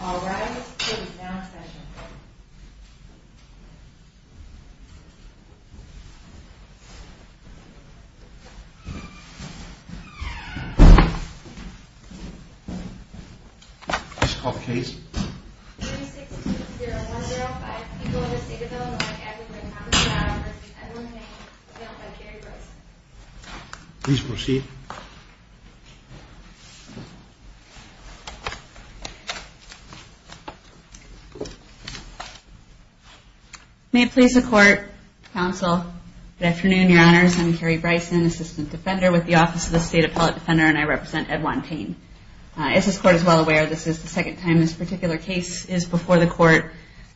All rise, this is now a session. Please call the case. Please proceed. May it please the court, counsel, good afternoon, your honors, I'm Carrie Bryson, Assistant Defender with the Office of the State Appellate Defender, and I represent Edward Payne. As this court is well aware, this is the second time this particular case is before the court.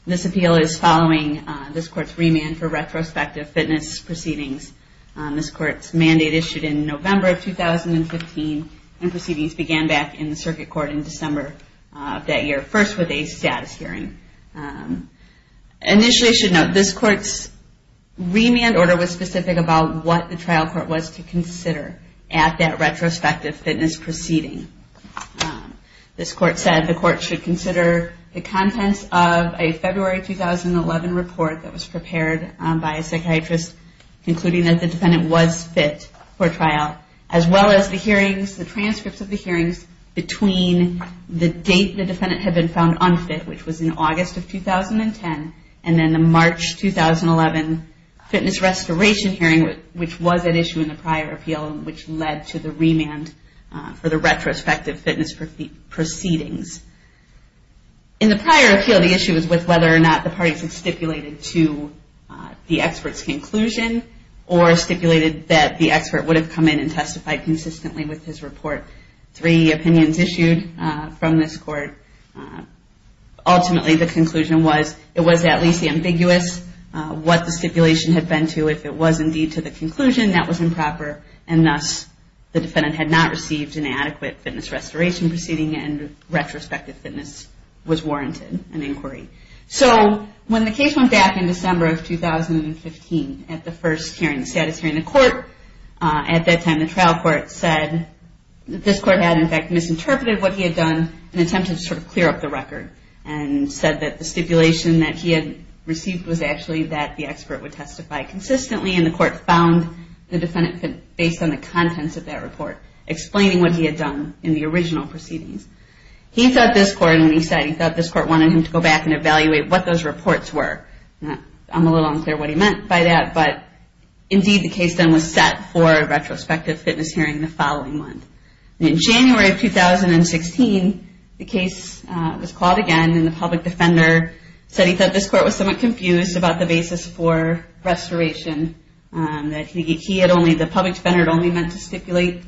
This appeal is following this court's remand for retrospective fitness proceedings. This court's mandate issued in November of 2015 and proceedings began back in the circuit court in December of that year, first with a status hearing. Initially, I should note, this court's remand order was specific about what the trial court was to consider at that retrospective fitness proceeding. This court said the court should consider the contents of a February 2011 report that was prepared by a psychiatrist, including that the defendant was fit for trial, as well as the hearings, the transcripts of the hearings between the date the defendant had been found unfit, which was in August of 2010, and then the March 2011 fitness restoration hearing, which was at issue in the prior appeal, which led to the remand for the retrospective fitness proceedings. In the prior appeal, the issue was with whether or not the parties had stipulated to the expert's conclusion, or stipulated that the expert would have come in and testified consistently with his report. Three opinions issued from this court. Ultimately, the conclusion was it was at least ambiguous what the stipulation had been to. If it was indeed to the conclusion, that was improper, and thus the defendant had not received an adequate fitness restoration proceeding and retrospective fitness was warranted an inquiry. So, when the case went back in December of 2015 at the first hearing, the status hearing, the court at that time, the trial court said that this court had in fact misinterpreted what he had done in an attempt to sort of clear up the record and said that the stipulation that he had received was actually that the expert would testify consistently and the court found the defendant fit based on the contents of that report, explaining what he had done in the original proceedings. He thought this court, when he said he thought this court wanted him to go back and evaluate what those reports were, I'm a little unclear what he meant by that, but indeed the case then was set for a retrospective fitness hearing the following month. In January of 2016, the case was called again and the public defender said he thought this court was somewhat confused about the basis for restoration, that he had only, the public defender had only meant to stipulate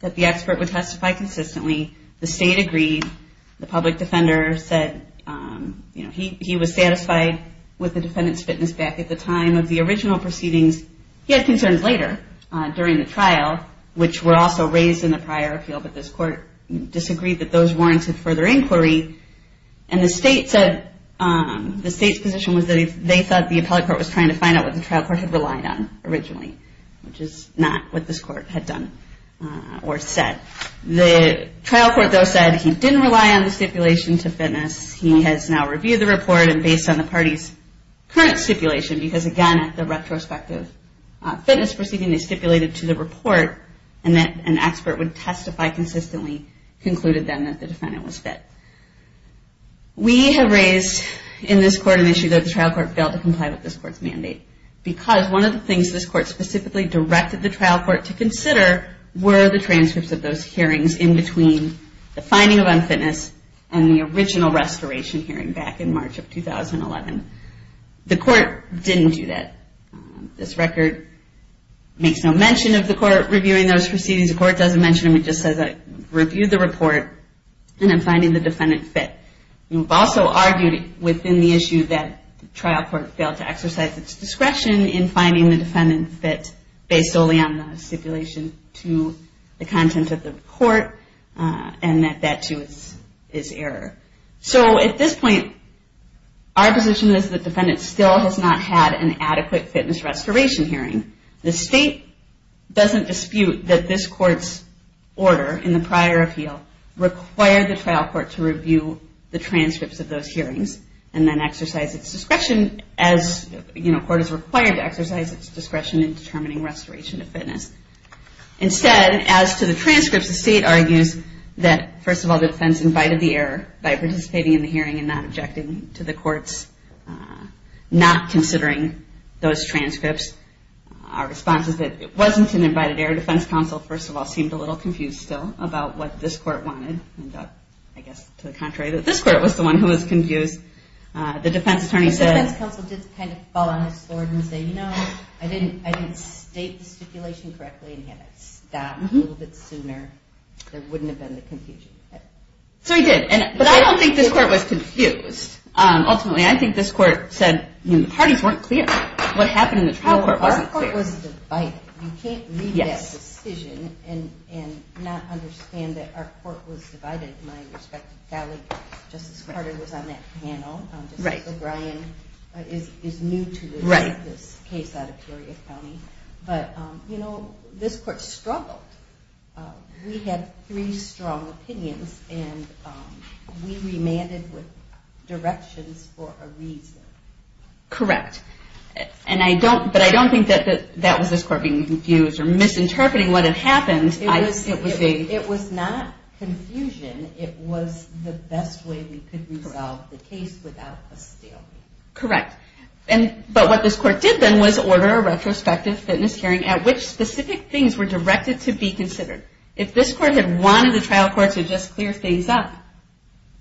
that the expert would testify consistently, the state agreed, the public defender said, you know, he was satisfied with the defendant's fitness back at the time of the original proceedings. He had concerns later during the trial, which were also raised in the prior appeal, but this court disagreed that those warranted further inquiry and the state said, the state's position was that they thought the appellate court was trying to find out what the trial court had relied on originally, which is not what this court had done or said. The trial court, though, said he didn't rely on the stipulation to fitness. He has now reviewed the report and based on the party's current stipulation, because again at the retrospective fitness proceeding they stipulated to the report and that an expert would testify consistently, concluded then that the defendant was fit. We have raised in this court an issue that the trial court failed to comply with this court's mandate, because one of the things this court specifically directed the trial court to consider were the transcripts of those hearings in between the finding of unfitness and the original restoration hearing back in March of 2011. The court didn't do that. This record makes no mention of the court reviewing those proceedings. The court doesn't mention them. It just says I reviewed the report and I'm finding the defendant fit. We've also argued within the issue that the trial court failed to exercise its discretion in finding the defendant fit based solely on the stipulation to the content of the report and that that, too, is error. So at this point, our position is the defendant still has not had an adequate fitness restoration hearing. The state doesn't dispute that this court's order in the prior appeal required the trial court to review the transcripts of those hearings and then exercise its discretion as the court is required to exercise its discretion in determining restoration of fitness. Instead, as to the transcripts, the state argues that, first of all, the defense invited the error by participating in the hearing and not objecting to the court's not considering those transcripts. Our response is that it wasn't an invited error. Your defense counsel, first of all, seemed a little confused still about what this court wanted. I guess to the contrary, that this court was the one who was confused. The defense attorney said- The defense counsel did kind of fall on his sword and say, you know, I didn't state the stipulation correctly and had it stopped a little bit sooner, there wouldn't have been the confusion. So he did. But I don't think this court was confused. Ultimately, I think this court said the parties weren't clear. What happened in the trial court wasn't clear. Our court was divided. You can't read that decision and not understand that our court was divided. My respective colleague, Justice Carter, was on that panel. Justice O'Brien is new to this case out of Peoria County. But, you know, this court struggled. We had three strong opinions, and we remanded with directions for a reason. Correct. But I don't think that that was this court being confused or misinterpreting what had happened. It was not confusion. It was the best way we could resolve the case without a stalemate. Correct. But what this court did then was order a retrospective fitness hearing at which specific things were directed to be considered. If this court had wanted the trial court to just clear things up,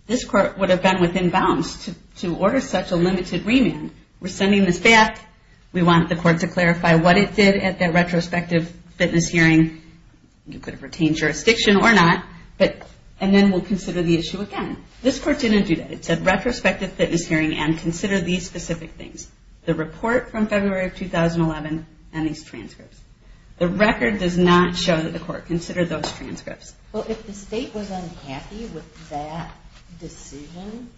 this court would have been within bounds to order such a limited remand. We're sending this back. We want the court to clarify what it did at that retrospective fitness hearing. You could have retained jurisdiction or not. And then we'll consider the issue again. This court didn't do that. It said retrospective fitness hearing and consider these specific things. The report from February of 2011 and these transcripts. The record does not show that the court considered those transcripts. Well, if the state was unhappy with that decision,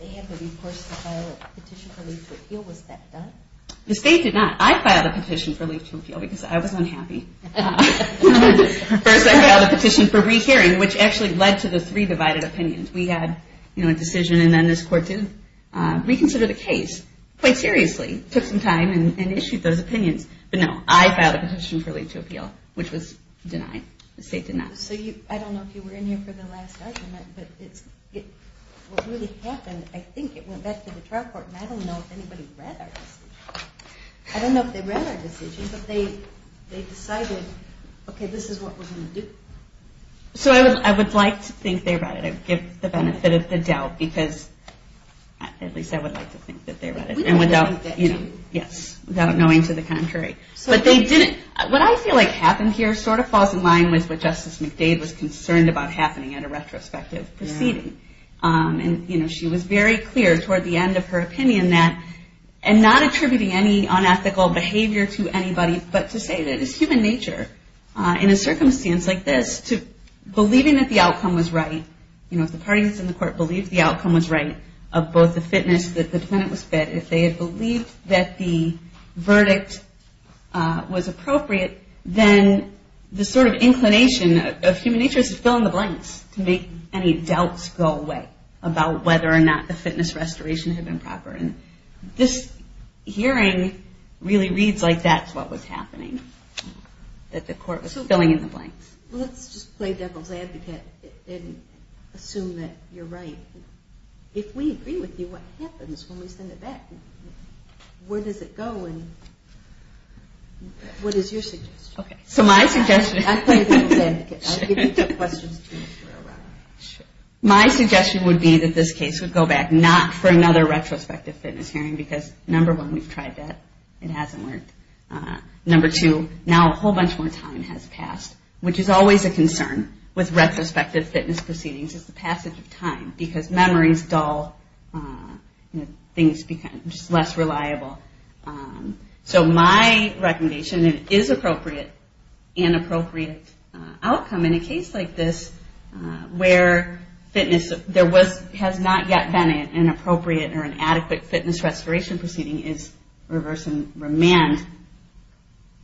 they had to be forced to file a petition for leave to appeal. Was that done? The state did not. I filed a petition for leave to appeal because I was unhappy. First I filed a petition for rehearing, which actually led to the three divided opinions. We had a decision and then this court did reconsider the case quite seriously, took some time, and issued those opinions. But no, I filed a petition for leave to appeal, which was denied. The state did not. So I don't know if you were in here for the last argument, but what really happened, I think it went back to the trial court, and I don't know if anybody read our decision. I don't know if they read our decision, but they decided, okay, this is what we're going to do. So I would like to think they read it. I would give the benefit of the doubt because, at least I would like to think that they read it. Yes, without knowing to the contrary. What I feel like happened here sort of falls in line with what Justice McDade was concerned about happening at a retrospective proceeding. She was very clear toward the end of her opinion that, and not attributing any unethical behavior to anybody, but to say that it's human nature in a circumstance like this, believing that the outcome was right, if the parties in the court believed the outcome was right, of both the fitness that the defendant was fed, if they had believed that the verdict was appropriate, then the sort of inclination of human nature is to fill in the blanks, to make any doubts go away about whether or not the fitness restoration had been proper. This hearing really reads like that's what was happening, that the court was filling in the blanks. Let's just play devil's advocate and assume that you're right. If we agree with you, what happens when we send it back? Where does it go and what is your suggestion? My suggestion would be that this case would go back, not for another retrospective fitness hearing, because number one, we've tried that. It hasn't worked. Number two, now a whole bunch more time has passed, which is always a concern with retrospective fitness proceedings, is the passage of time, because memory is dull. Things become less reliable. So my recommendation is an appropriate outcome in a case like this, where there has not yet been an appropriate or an adequate fitness restoration proceeding, is reverse and remand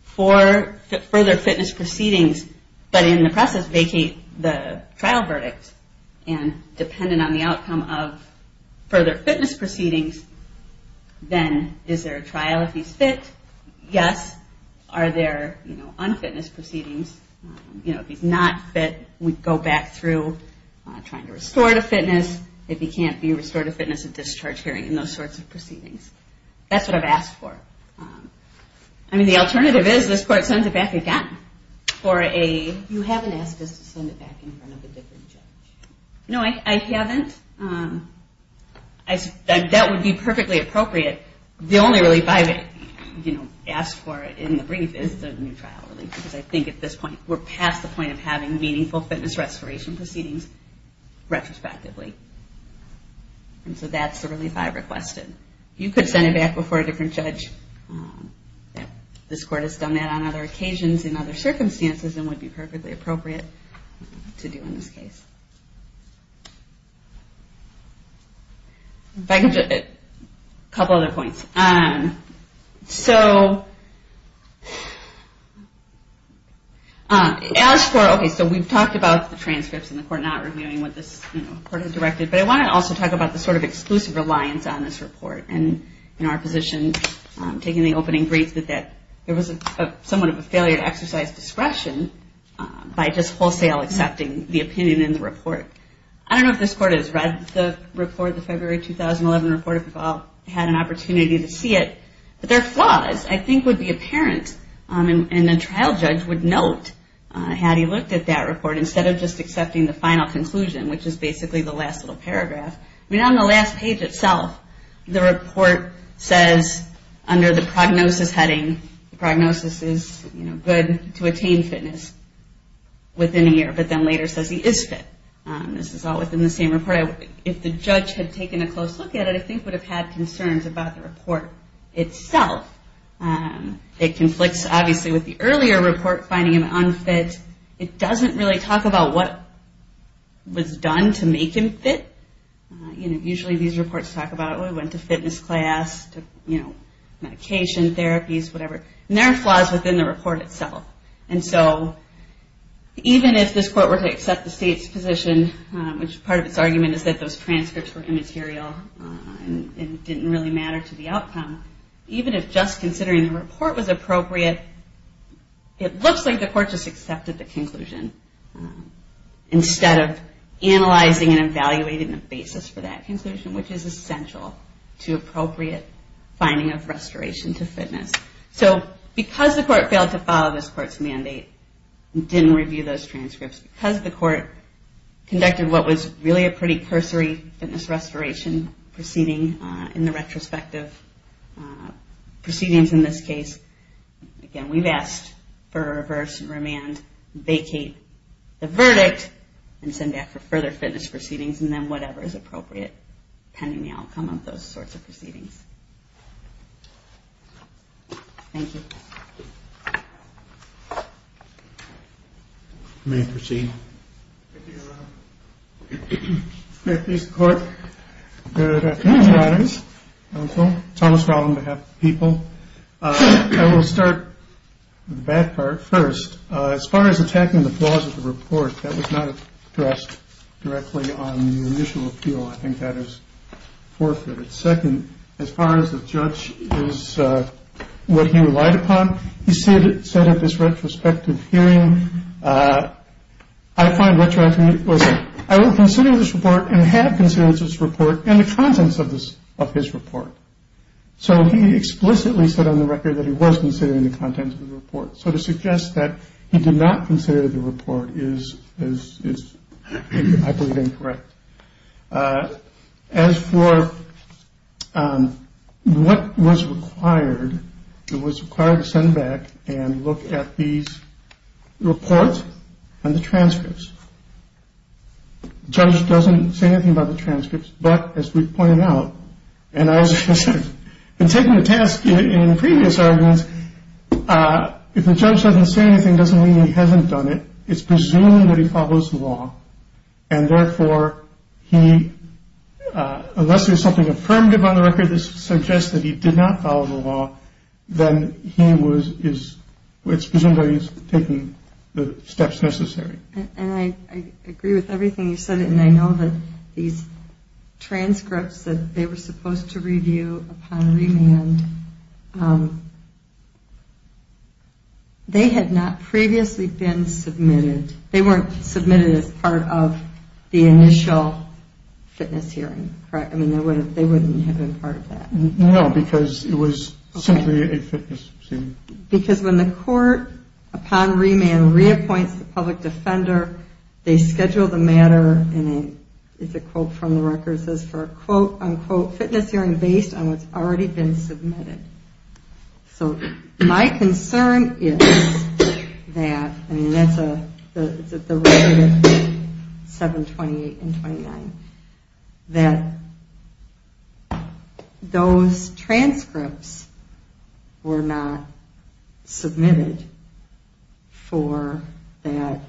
for further fitness proceedings, but in the process vacate the trial verdict and dependent on the outcome of further fitness proceedings, then is there a trial if he's fit? Yes. Are there unfitness proceedings? If he's not fit, we'd go back through trying to restore the fitness. If he can't be restored to fitness, a discharge hearing and those sorts of proceedings. That's what I've asked for. The alternative is this court sends it back again for a... You haven't asked us to send it back in front of a different judge. No, I haven't. That would be perfectly appropriate. The only relief I've asked for in the brief is the new trial relief, because I think at this point we're past the point of having meaningful fitness restoration proceedings retrospectively. So that's the relief I've requested. You could send it back before a different judge. This court has done that on other occasions in other circumstances and would be perfectly appropriate to do in this case. If I can just... A couple other points. So... As for... Okay, so we've talked about the transcripts and the court not reviewing what this court has directed, but I want to also talk about the sort of exclusive reliance on this report and our position taking the opening brief that there was somewhat of a failure to exercise discretion by just wholesale accepting the opinion in the report. I don't know if this court has read the report, the February 2011 report, if you've all had an opportunity to see it, but there are flaws I think would be apparent and the trial judge would note had he looked at that report instead of just accepting the final conclusion, which is basically the last little paragraph. On the last page itself, the report says under the prognosis heading, the prognosis is good to attain fitness within a year, but then later says he is fit. This is all within the same report. If the judge had taken a close look at it, I think would have had concerns about the report itself. It conflicts obviously with the earlier report finding him unfit. It doesn't really talk about what was done to make him fit. Usually these reports talk about he went to fitness class, to medication, therapies, whatever. There are flaws within the report itself. Even if this court were to accept the state's position, which part of its argument is that those transcripts were immaterial and didn't really matter to the outcome, even if just considering the report was appropriate, it looks like the court just accepted the conclusion instead of analyzing and evaluating the basis for that conclusion, which is essential to appropriate finding of restoration to fitness. Because the court failed to follow this court's mandate and didn't review those transcripts, because the court conducted what was really a pretty cursory fitness restoration proceeding in the retrospective, in this case, again, we've asked for a reverse remand, vacate the verdict and send back for further fitness proceedings and then whatever is appropriate pending the outcome of those sorts of proceedings. Thank you. You may proceed. Thank you, Your Honor. Good afternoon, Your Honors. I'm Thomas Fowling, on behalf of the people. I will start with the bad part first. As far as attacking the flaws of the report, that was not addressed directly on the initial appeal. I think that is forfeited. Second, as far as the judge is what he relied upon, he said at this retrospective hearing, I find what you're asking me, I will consider this report and have considered this report and the contents of his report. So he explicitly said on the record that he was considering the contents of the report. So to suggest that he did not consider the report is, I believe, incorrect. As for what was required, it was required to send back and look at these reports and the transcripts. The judge doesn't say anything about the transcripts, but as we pointed out, and I was taking the task in previous arguments, if the judge doesn't say anything, it doesn't mean he hasn't done it. It's presuming that he follows the law. And, therefore, he, unless there's something affirmative on the record that suggests that he did not follow the law, then he is presumably taking the steps necessary. And I agree with everything you said, and I know that these transcripts that they were supposed to review upon remand, they had not previously been submitted. They weren't submitted as part of the initial fitness hearing, correct? I mean, they wouldn't have been part of that. No, because it was simply a fitness hearing. Because when the court, upon remand, reappoints the public defender, they schedule the matter in a, it's a quote from the record, it says for a, quote, unquote, fitness hearing based on what's already been submitted. So my concern is that, I mean, that's the record of 7, 28, and 29, that those transcripts were not submitted for that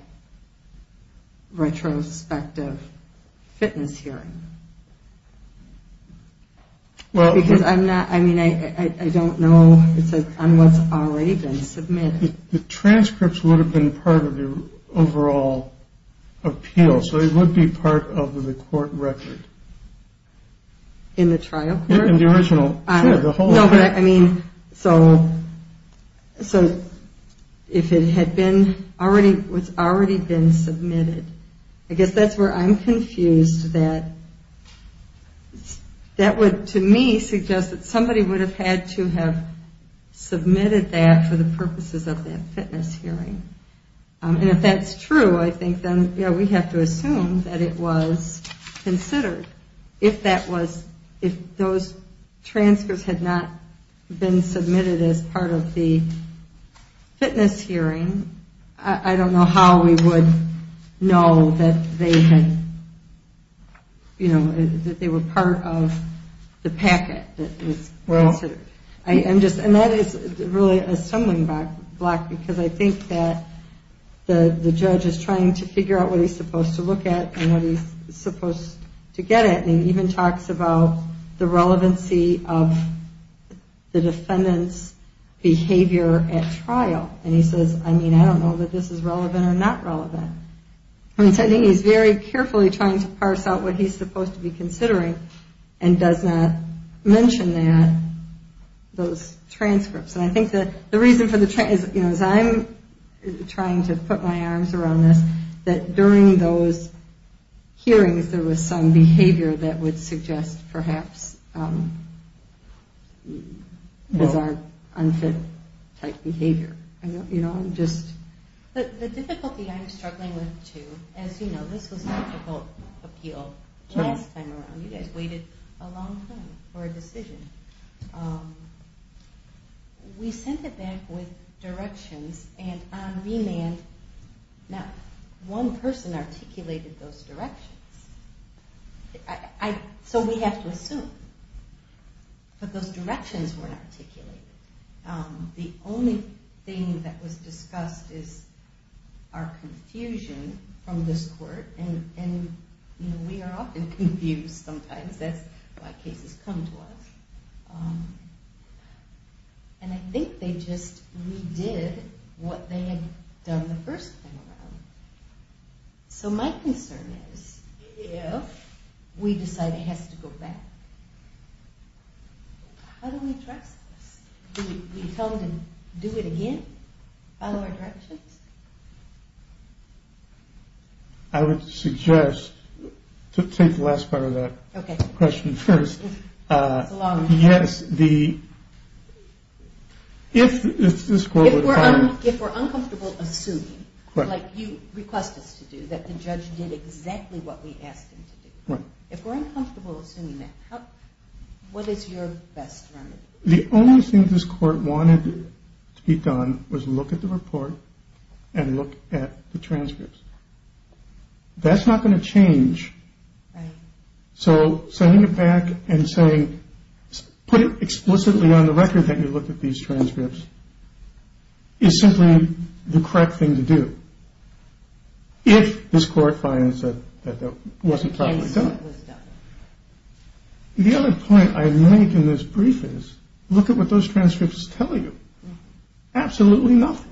retrospective fitness hearing. Because I'm not, I mean, I don't know on what's already been submitted. The transcripts would have been part of the overall appeal, so they would be part of the court record. In the trial court? In the original. No, but I mean, so if it had been already, it's already been submitted, I guess that's where I'm confused that that would, to me, suggest that somebody would have had to have submitted that for the purposes of that fitness hearing. And if that's true, I think then, you know, we have to assume that it was considered. If that was, if those transcripts had not been submitted as part of the packet that was considered. And that is really a stumbling block, because I think that the judge is trying to figure out what he's supposed to look at and what he's supposed to get at. And he even talks about the relevancy of the defendant's behavior at trial. And he says, I mean, I don't know that this is relevant or not relevant. I think he's very carefully trying to parse out what he's supposed to be considering and does not mention that, those transcripts. And I think that the reason for the, you know, as I'm trying to put my arms around this, that during those hearings there was some behavior that would suggest perhaps bizarre, unfit type behavior. You know, I'm just. The difficulty I'm struggling with, too, as you know, this was a difficult appeal last time around. You guys waited a long time for a decision. We sent it back with directions and on remand, not one person articulated those directions. So we have to assume. But those directions weren't articulated. The only thing that was discussed is our confusion from this court. And, you know, we are often confused sometimes. That's why cases come to us. And I think they just redid what they had done the first time around. So my concern is if we decide it has to go back, how do we address this? Do we tell them to do it again, follow our directions? I would suggest to take the last part of that question first. Yes, the. If we're uncomfortable assuming, like you request us to do, that the judge did exactly what we asked him to do. If we're uncomfortable assuming that, what is your best remedy? The only thing this court wanted to be done was look at the report and look at the transcripts. That's not going to change. So sending it back and saying put it explicitly on the record that you look at these transcripts is simply the correct thing to do. If this court finds that that wasn't done. The other point I made in this brief is look at what those transcripts tell you. Absolutely nothing.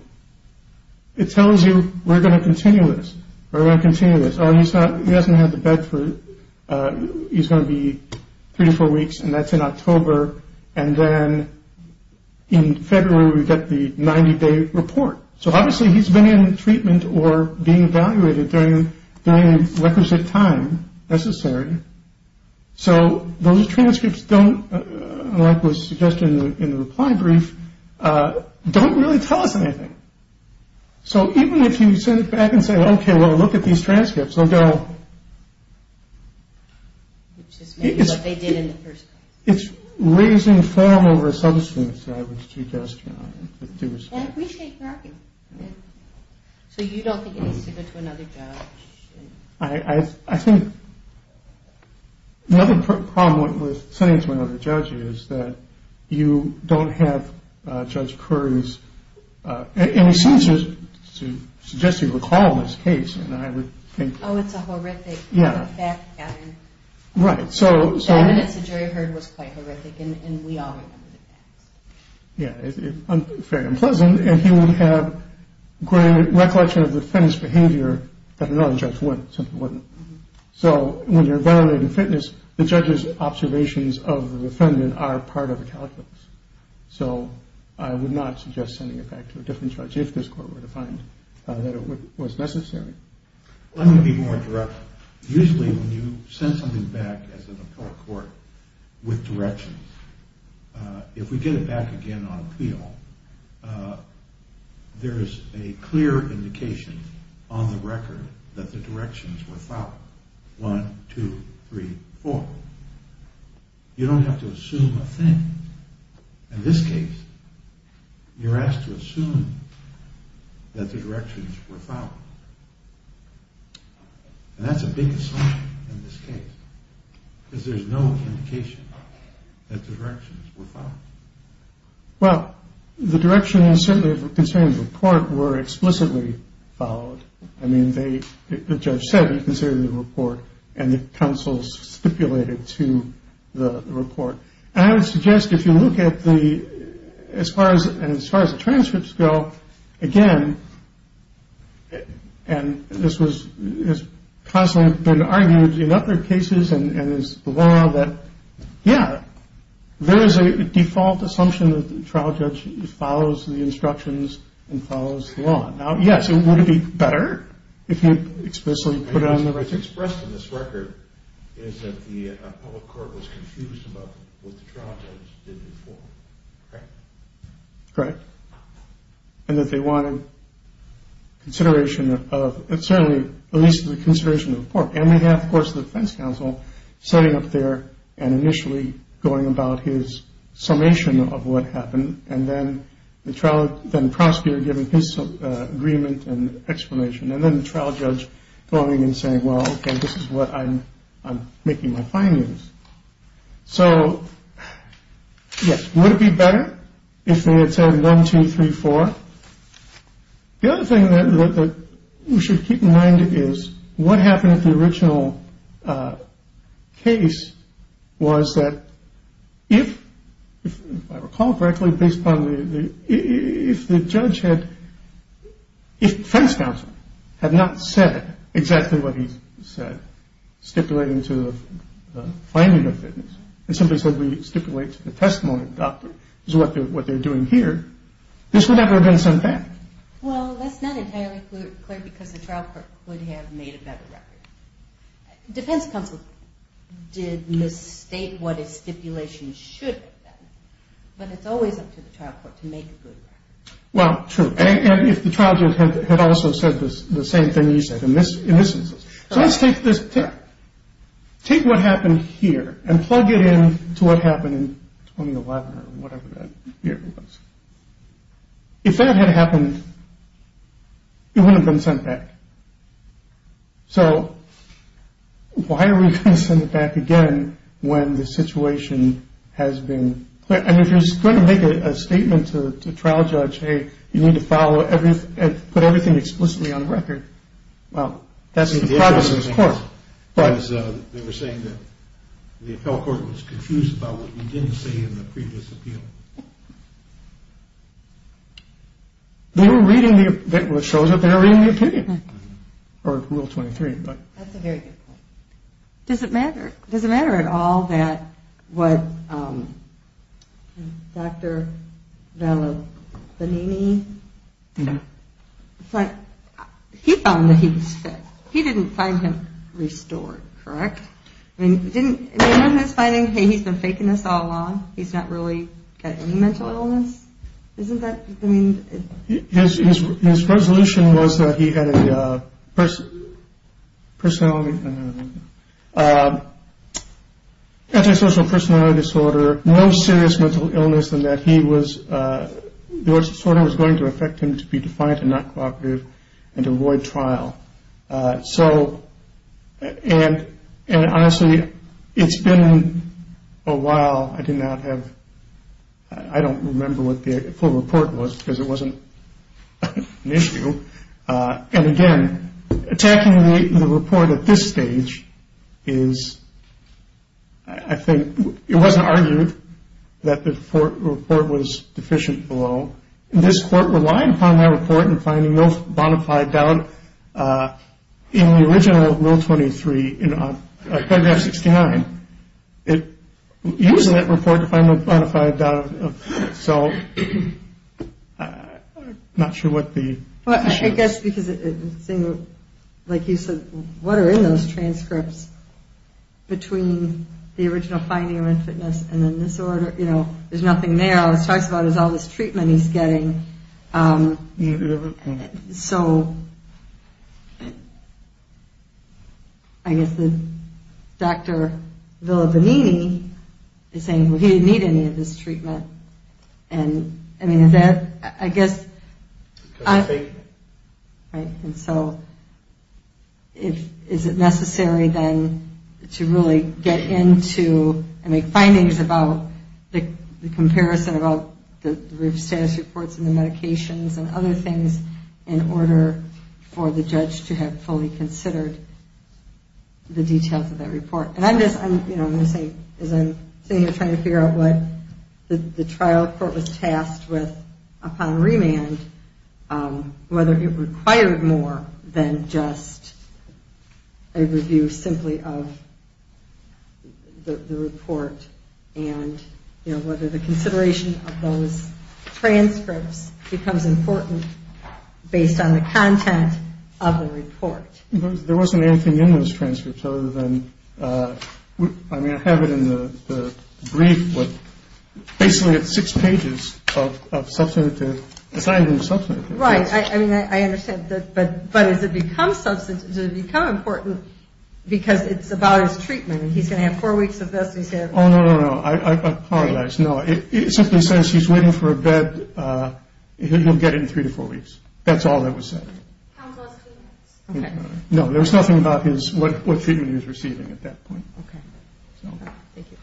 It tells you we're going to continue this or I continue this. He doesn't have the bed for he's going to be three to four weeks and that's in October. And then in February we get the 90 day report. So obviously he's been in treatment or being evaluated during requisite time necessary. So those transcripts don't like was suggested in the reply brief. Don't really tell us anything. So even if you send it back and say, OK, well, look at these transcripts, they'll go. It is what they did in the first place. It's raising form over substance. I would suggest you appreciate. So you don't think you need to go to another judge. I think another problem with sending it to another judge is that you don't have Judge Curry's and he seems to suggest you recall this case. And I would think, oh, it's a horrific. Yeah. Right. So the jury heard was quite horrific. And we are. Yeah. I'm very unpleasant. And he will have great recollection of the fence behavior. But another judge would simply wouldn't. So when you're valid in fitness, the judge's observations of the defendant are part of the calculus. So I would not suggest sending it back to a different judge if this court were to find that it was necessary. Let me be more direct. Usually when you send something back as a court with directions, if we get it back again on appeal, there is a clear indication on the record that the directions were found. One, two, three, four. You don't have to assume a thing. In this case, you're asked to assume that the directions were found. And that's a big assumption in this case. Because there's no indication that the directions were found. Well, the directions certainly concerning the report were explicitly followed. I mean, the judge said he considered the report and the counsels stipulated to the report. And I would suggest if you look at the as far as and as far as the transcripts go again. And this was constantly been argued in other cases and is the law that. Yeah. There is a default assumption that the trial judge follows the instructions and follows the law. Now, yes, it would be better if you explicitly put it on the record. It's expressed in this record is that the public court was confused about what the trial judge did before. Correct. Correct. And that they wanted consideration of it. Certainly, at least the consideration of the court. And we have, of course, the defense counsel sitting up there and initially going about his summation of what happened. And then the trial then prosecutor giving his agreement and explanation. And then the trial judge going and saying, well, this is what I'm I'm making my findings. So, yes, would it be better if they had said one, two, three, four? The other thing that we should keep in mind is what happened at the original case was that if I recall correctly, based on the if the judge had defense counsel had not said exactly what he said, stipulating to the finding of fitness and simply said we stipulate the testimony doctor is what they're what they're doing here. This would never have been sent back. Well, that's not entirely clear because the trial court would have made a better record. Defense counsel did mistake what a stipulation should. But it's always up to the trial court to make. Well, true. And if the trial judge had also said this, the same thing you said in this instance. So let's take this. Take what happened here and plug it in to what happened in 2011 or whatever that year was. If that had happened, it wouldn't have been sent back. So why are we going to send it back again when the situation has been clear? And if you're going to make a statement to the trial judge, hey, you need to follow everything, put everything explicitly on record. Well, that's the progress of this court. But they were saying that the appeal court was confused about what we didn't say in the previous appeal. They were reading what shows that they were reading the opinion or Rule 23. That's a very good point. Does it matter? Does it matter at all that what Dr. Vallobanini. No. He found that he was fake. He didn't find him restored, correct? I mean, he didn't find anything. He's been faking this all along. He's not really got any mental illness. Isn't that his resolution was that he had a personality disorder, no serious mental illness, and that he was going to affect him to be defiant and not cooperative and avoid trial. So and honestly, it's been a while. I did not have I don't remember what the full report was because it wasn't an issue. And again, attacking the report at this stage is I think it wasn't argued that the report was deficient below. This court relied upon that report and finding no bona fide doubt in the original Rule 23 in paragraph 69. It used that report to find a bona fide doubt. So I'm not sure what the. Well, I guess because it seemed like you said, what are in those transcripts between the original finding of infitness and then disorder? You know, there's nothing there. All it talks about is all this treatment he's getting. So I guess the doctor is saying, well, he didn't need any of this treatment. And I mean, is that I guess. Right. And so if is it necessary then to really get into and make findings about the comparison about the status reports and the medications and other things in order for the judge to have fully considered the details of that report. And I'm just saying as I'm sitting here trying to figure out what the trial court was tasked with upon remand, whether it required more than just a review simply of the report and whether the consideration of those transcripts becomes important based on the content of the report. There wasn't anything in those transcripts other than I mean, I have it in the brief. Basically, it's six pages of substantive. Right. I mean, I understand that. But but as it becomes substantive, become important because it's about his treatment. He's going to have four weeks of this. Oh, no, no, no. I apologize. No, it simply says he's waiting for a bed. He'll get in three to four weeks. That's all that was said. OK. No, there was nothing about what treatment he was receiving at that point. OK. Thank you.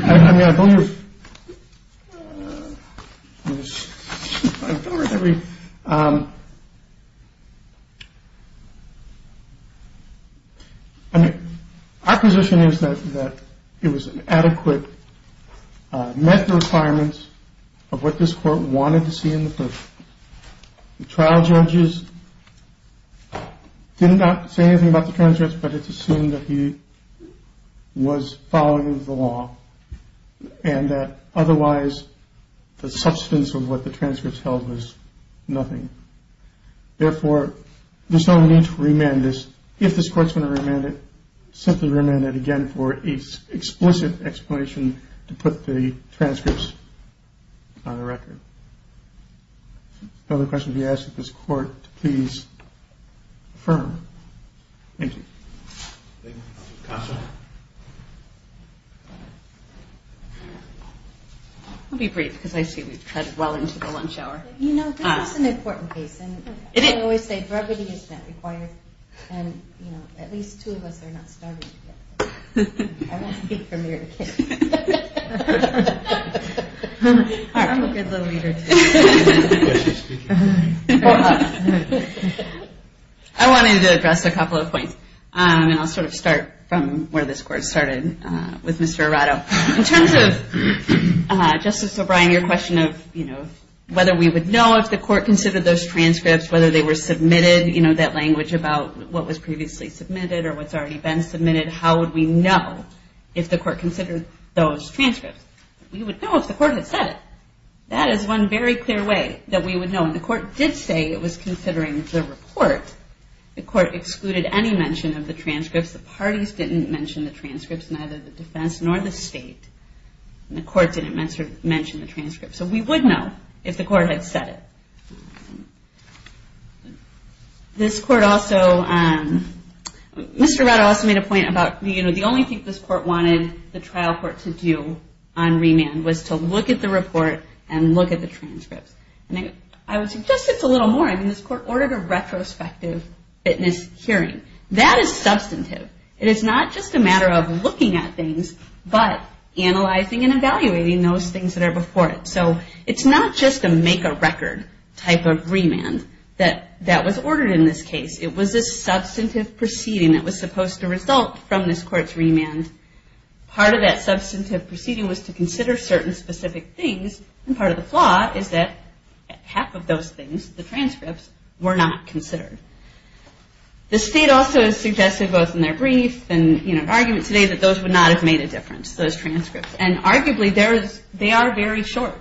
I mean, I believe every. I mean, our position is that it was an adequate met the requirements of what this court wanted to see in the trial. The trial judges did not say anything about the transcripts, but it's assumed that he was following the law and that otherwise the substance of what the transcripts held was nothing. Therefore, there's no need to remand this. If this court's going to remand it, simply remand it again for its explicit explanation to put the transcripts on the record. Other questions you ask of this court, please. Thank you. I'll be brief because I see we've cut well into the lunch hour. You know, this is an important case. And I always say brevity is not required. And, you know, at least two of us are not starving. I won't speak from ear to ear. I'm a good little reader, too. I wanted to address a couple of points. And I'll sort of start from where this court started with Mr. Arado. In terms of Justice O'Brien, your question of, you know, whether we would know if the court considered those transcripts, whether they were submitted, you know, that language about what was previously submitted or what's already been submitted, how would we know if the court considered those transcripts? We would know if the court had said it. That is one very clear way that we would know. And the court did say it was considering the report. The court excluded any mention of the transcripts. The parties didn't mention the transcripts, neither the defense nor the state. The court didn't mention the transcripts. So we would know if the court had said it. This court also, Mr. Arado also made a point about, you know, the only thing this court wanted the trial court to do on remand was to look at the report and look at the transcripts. I would suggest it's a little more. I mean, this court ordered a retrospective witness hearing. That is substantive. It is not just a matter of looking at things, but analyzing and evaluating those things that are before it. So it's not just a make-a-record type of remand that was ordered in this case. It was a substantive proceeding that was supposed to result from this court's remand. Part of that substantive proceeding was to consider certain specific things, and part of the flaw is that half of those things, the transcripts, were not considered. The state also has suggested, both in their brief and in an argument today, that those would not have made a difference, those transcripts. And arguably, they are very short.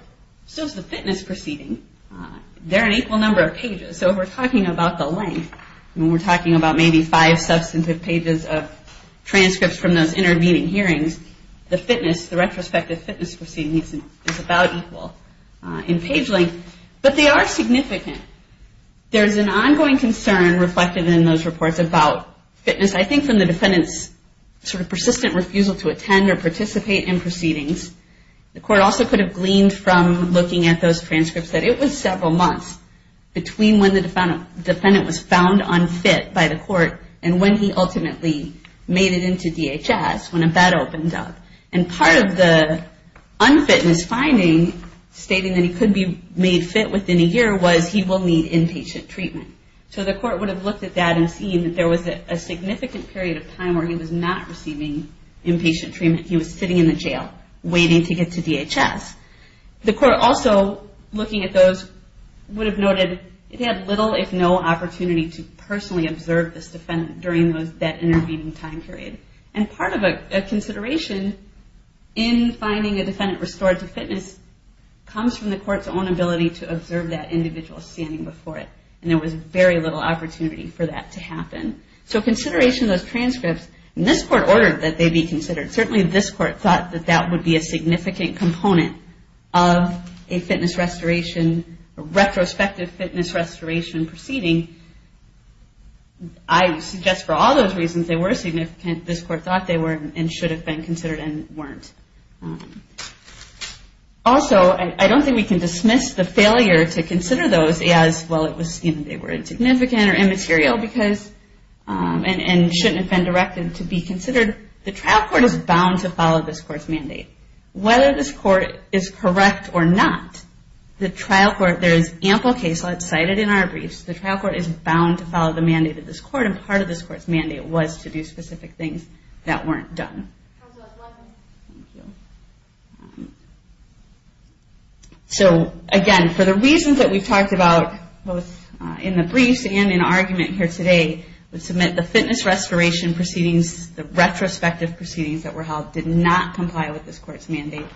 So is the fitness proceeding. They're an equal number of pages. So if we're talking about the length, when we're talking about maybe five substantive pages of transcripts from those intervening hearings, the fitness, the retrospective fitness proceeding is about equal in page length. But they are significant. There is an ongoing concern reflected in those reports about fitness, I think from the defendant's sort of persistent refusal to attend or participate in proceedings. The court also could have gleaned from looking at those transcripts that it was several months between when the defendant was found unfit by the court and when he ultimately made it into DHS, when a bed opened up. And part of the unfitness finding, stating that he could be made fit within a year, was he will need inpatient treatment. So the court would have looked at that and seen that there was a significant period of time where he was not receiving inpatient treatment. He was sitting in the jail waiting to get to DHS. The court also, looking at those, would have noted it had little if no opportunity to personally observe this defendant during that intervening time period. And part of a consideration in finding a defendant restored to fitness comes from the court's own ability to observe that individual standing before it. And there was very little opportunity for that to happen. So consideration of those transcripts, and this court ordered that they be considered. Certainly this court thought that that would be a significant component of a fitness restoration, a retrospective fitness restoration proceeding. I suggest for all those reasons they were significant. This court thought they were and should have been considered and weren't. Also, I don't think we can dismiss the failure to consider those as, well, they were insignificant or immaterial and shouldn't have been directed to be considered. The trial court is bound to follow this court's mandate. Whether this court is correct or not, there is ample case law cited in our briefs. The trial court is bound to follow the mandate of this court, and part of this court's mandate was to do specific things that weren't done. Thank you. So, again, for the reasons that we've talked about both in the briefs and in argument here today, we submit the fitness restoration proceedings, the retrospective proceedings that were held, did not comply with this court's mandate.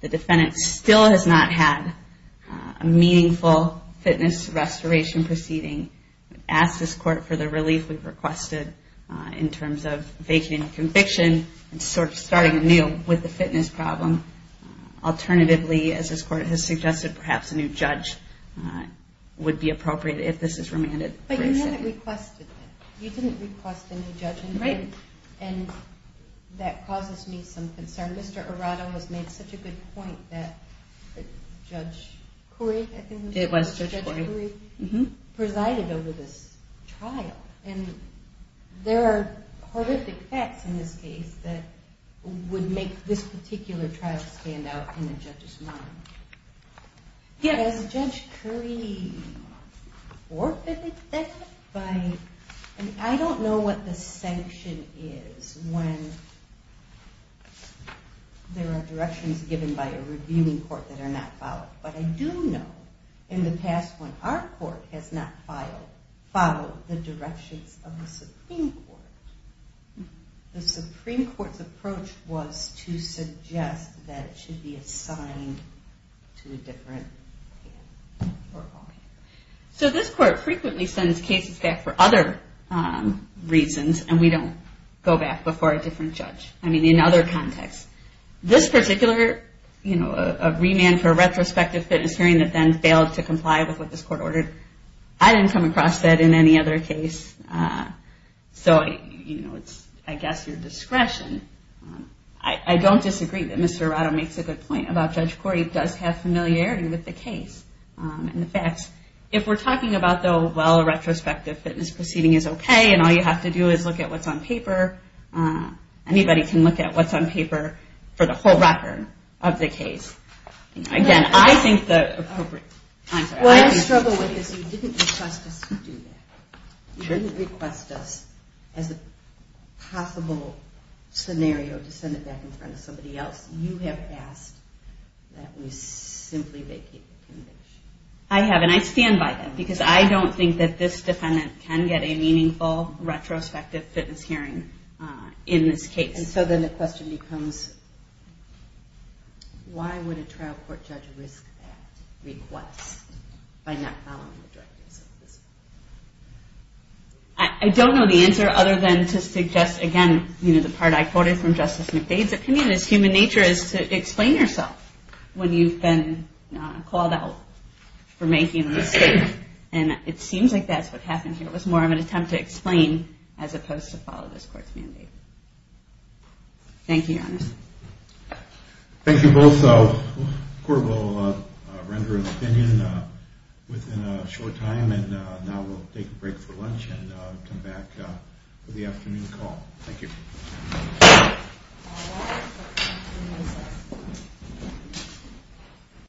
The defendant still has not had a meaningful fitness restoration proceeding. We've asked this court for the relief we've requested in terms of vacating the conviction and sort of starting anew with the fitness problem. Alternatively, as this court has suggested, perhaps a new judge would be appropriate if this is remanded. But you haven't requested it. You didn't request a new judge. Right. And that causes me some concern. Mr. Arado has made such a good point that Judge Koury, I think it was Judge Koury, presided over this trial. And there are horrific facts in this case that would make this particular trial stand out in a judge's mind. Does Judge Koury forfeit that? I don't know what the sanction is when there are directions given by a reviewing court that are not followed. But I do know in the past when our court has not followed the directions of the Supreme Court, the Supreme Court's approach was to suggest that it should be assigned to a different panel. So this court frequently sends cases back for other reasons and we don't go back before a different judge. I mean, in other contexts. This particular remand for a retrospective fitness hearing that then failed to comply with what this court ordered, I didn't come across that in any other case. So, you know, it's I guess your discretion. I don't disagree that Mr. Arado makes a good point about Judge Koury does have familiarity with the case and the facts. If we're talking about, though, well, a retrospective fitness proceeding is okay and all you have to do is look at what's on paper, anybody can look at what's on paper for the whole record of the case. Again, I think the appropriate... What I struggle with is you didn't request us to do that. You didn't request us as a possible scenario to send it back in front of somebody else. You have asked that we simply vacate the conviction. I have and I stand by that because I don't think that this defendant can get a meaningful retrospective fitness hearing in this case. And so then the question becomes, why would a trial court judge risk that request by not following the directives of this court? I don't know the answer other than to suggest, again, you know, the part I quoted from Justice McDade's opinion, is human nature is to explain yourself when you've been called out for making a mistake. And it seems like that's what happened here. It was more of an attempt to explain as opposed to follow this court's mandate. Thank you, Your Honor. Thank you both. The court will render an opinion within a short time and now we'll take a break for lunch and come back for the afternoon call. Thank you. Thank you.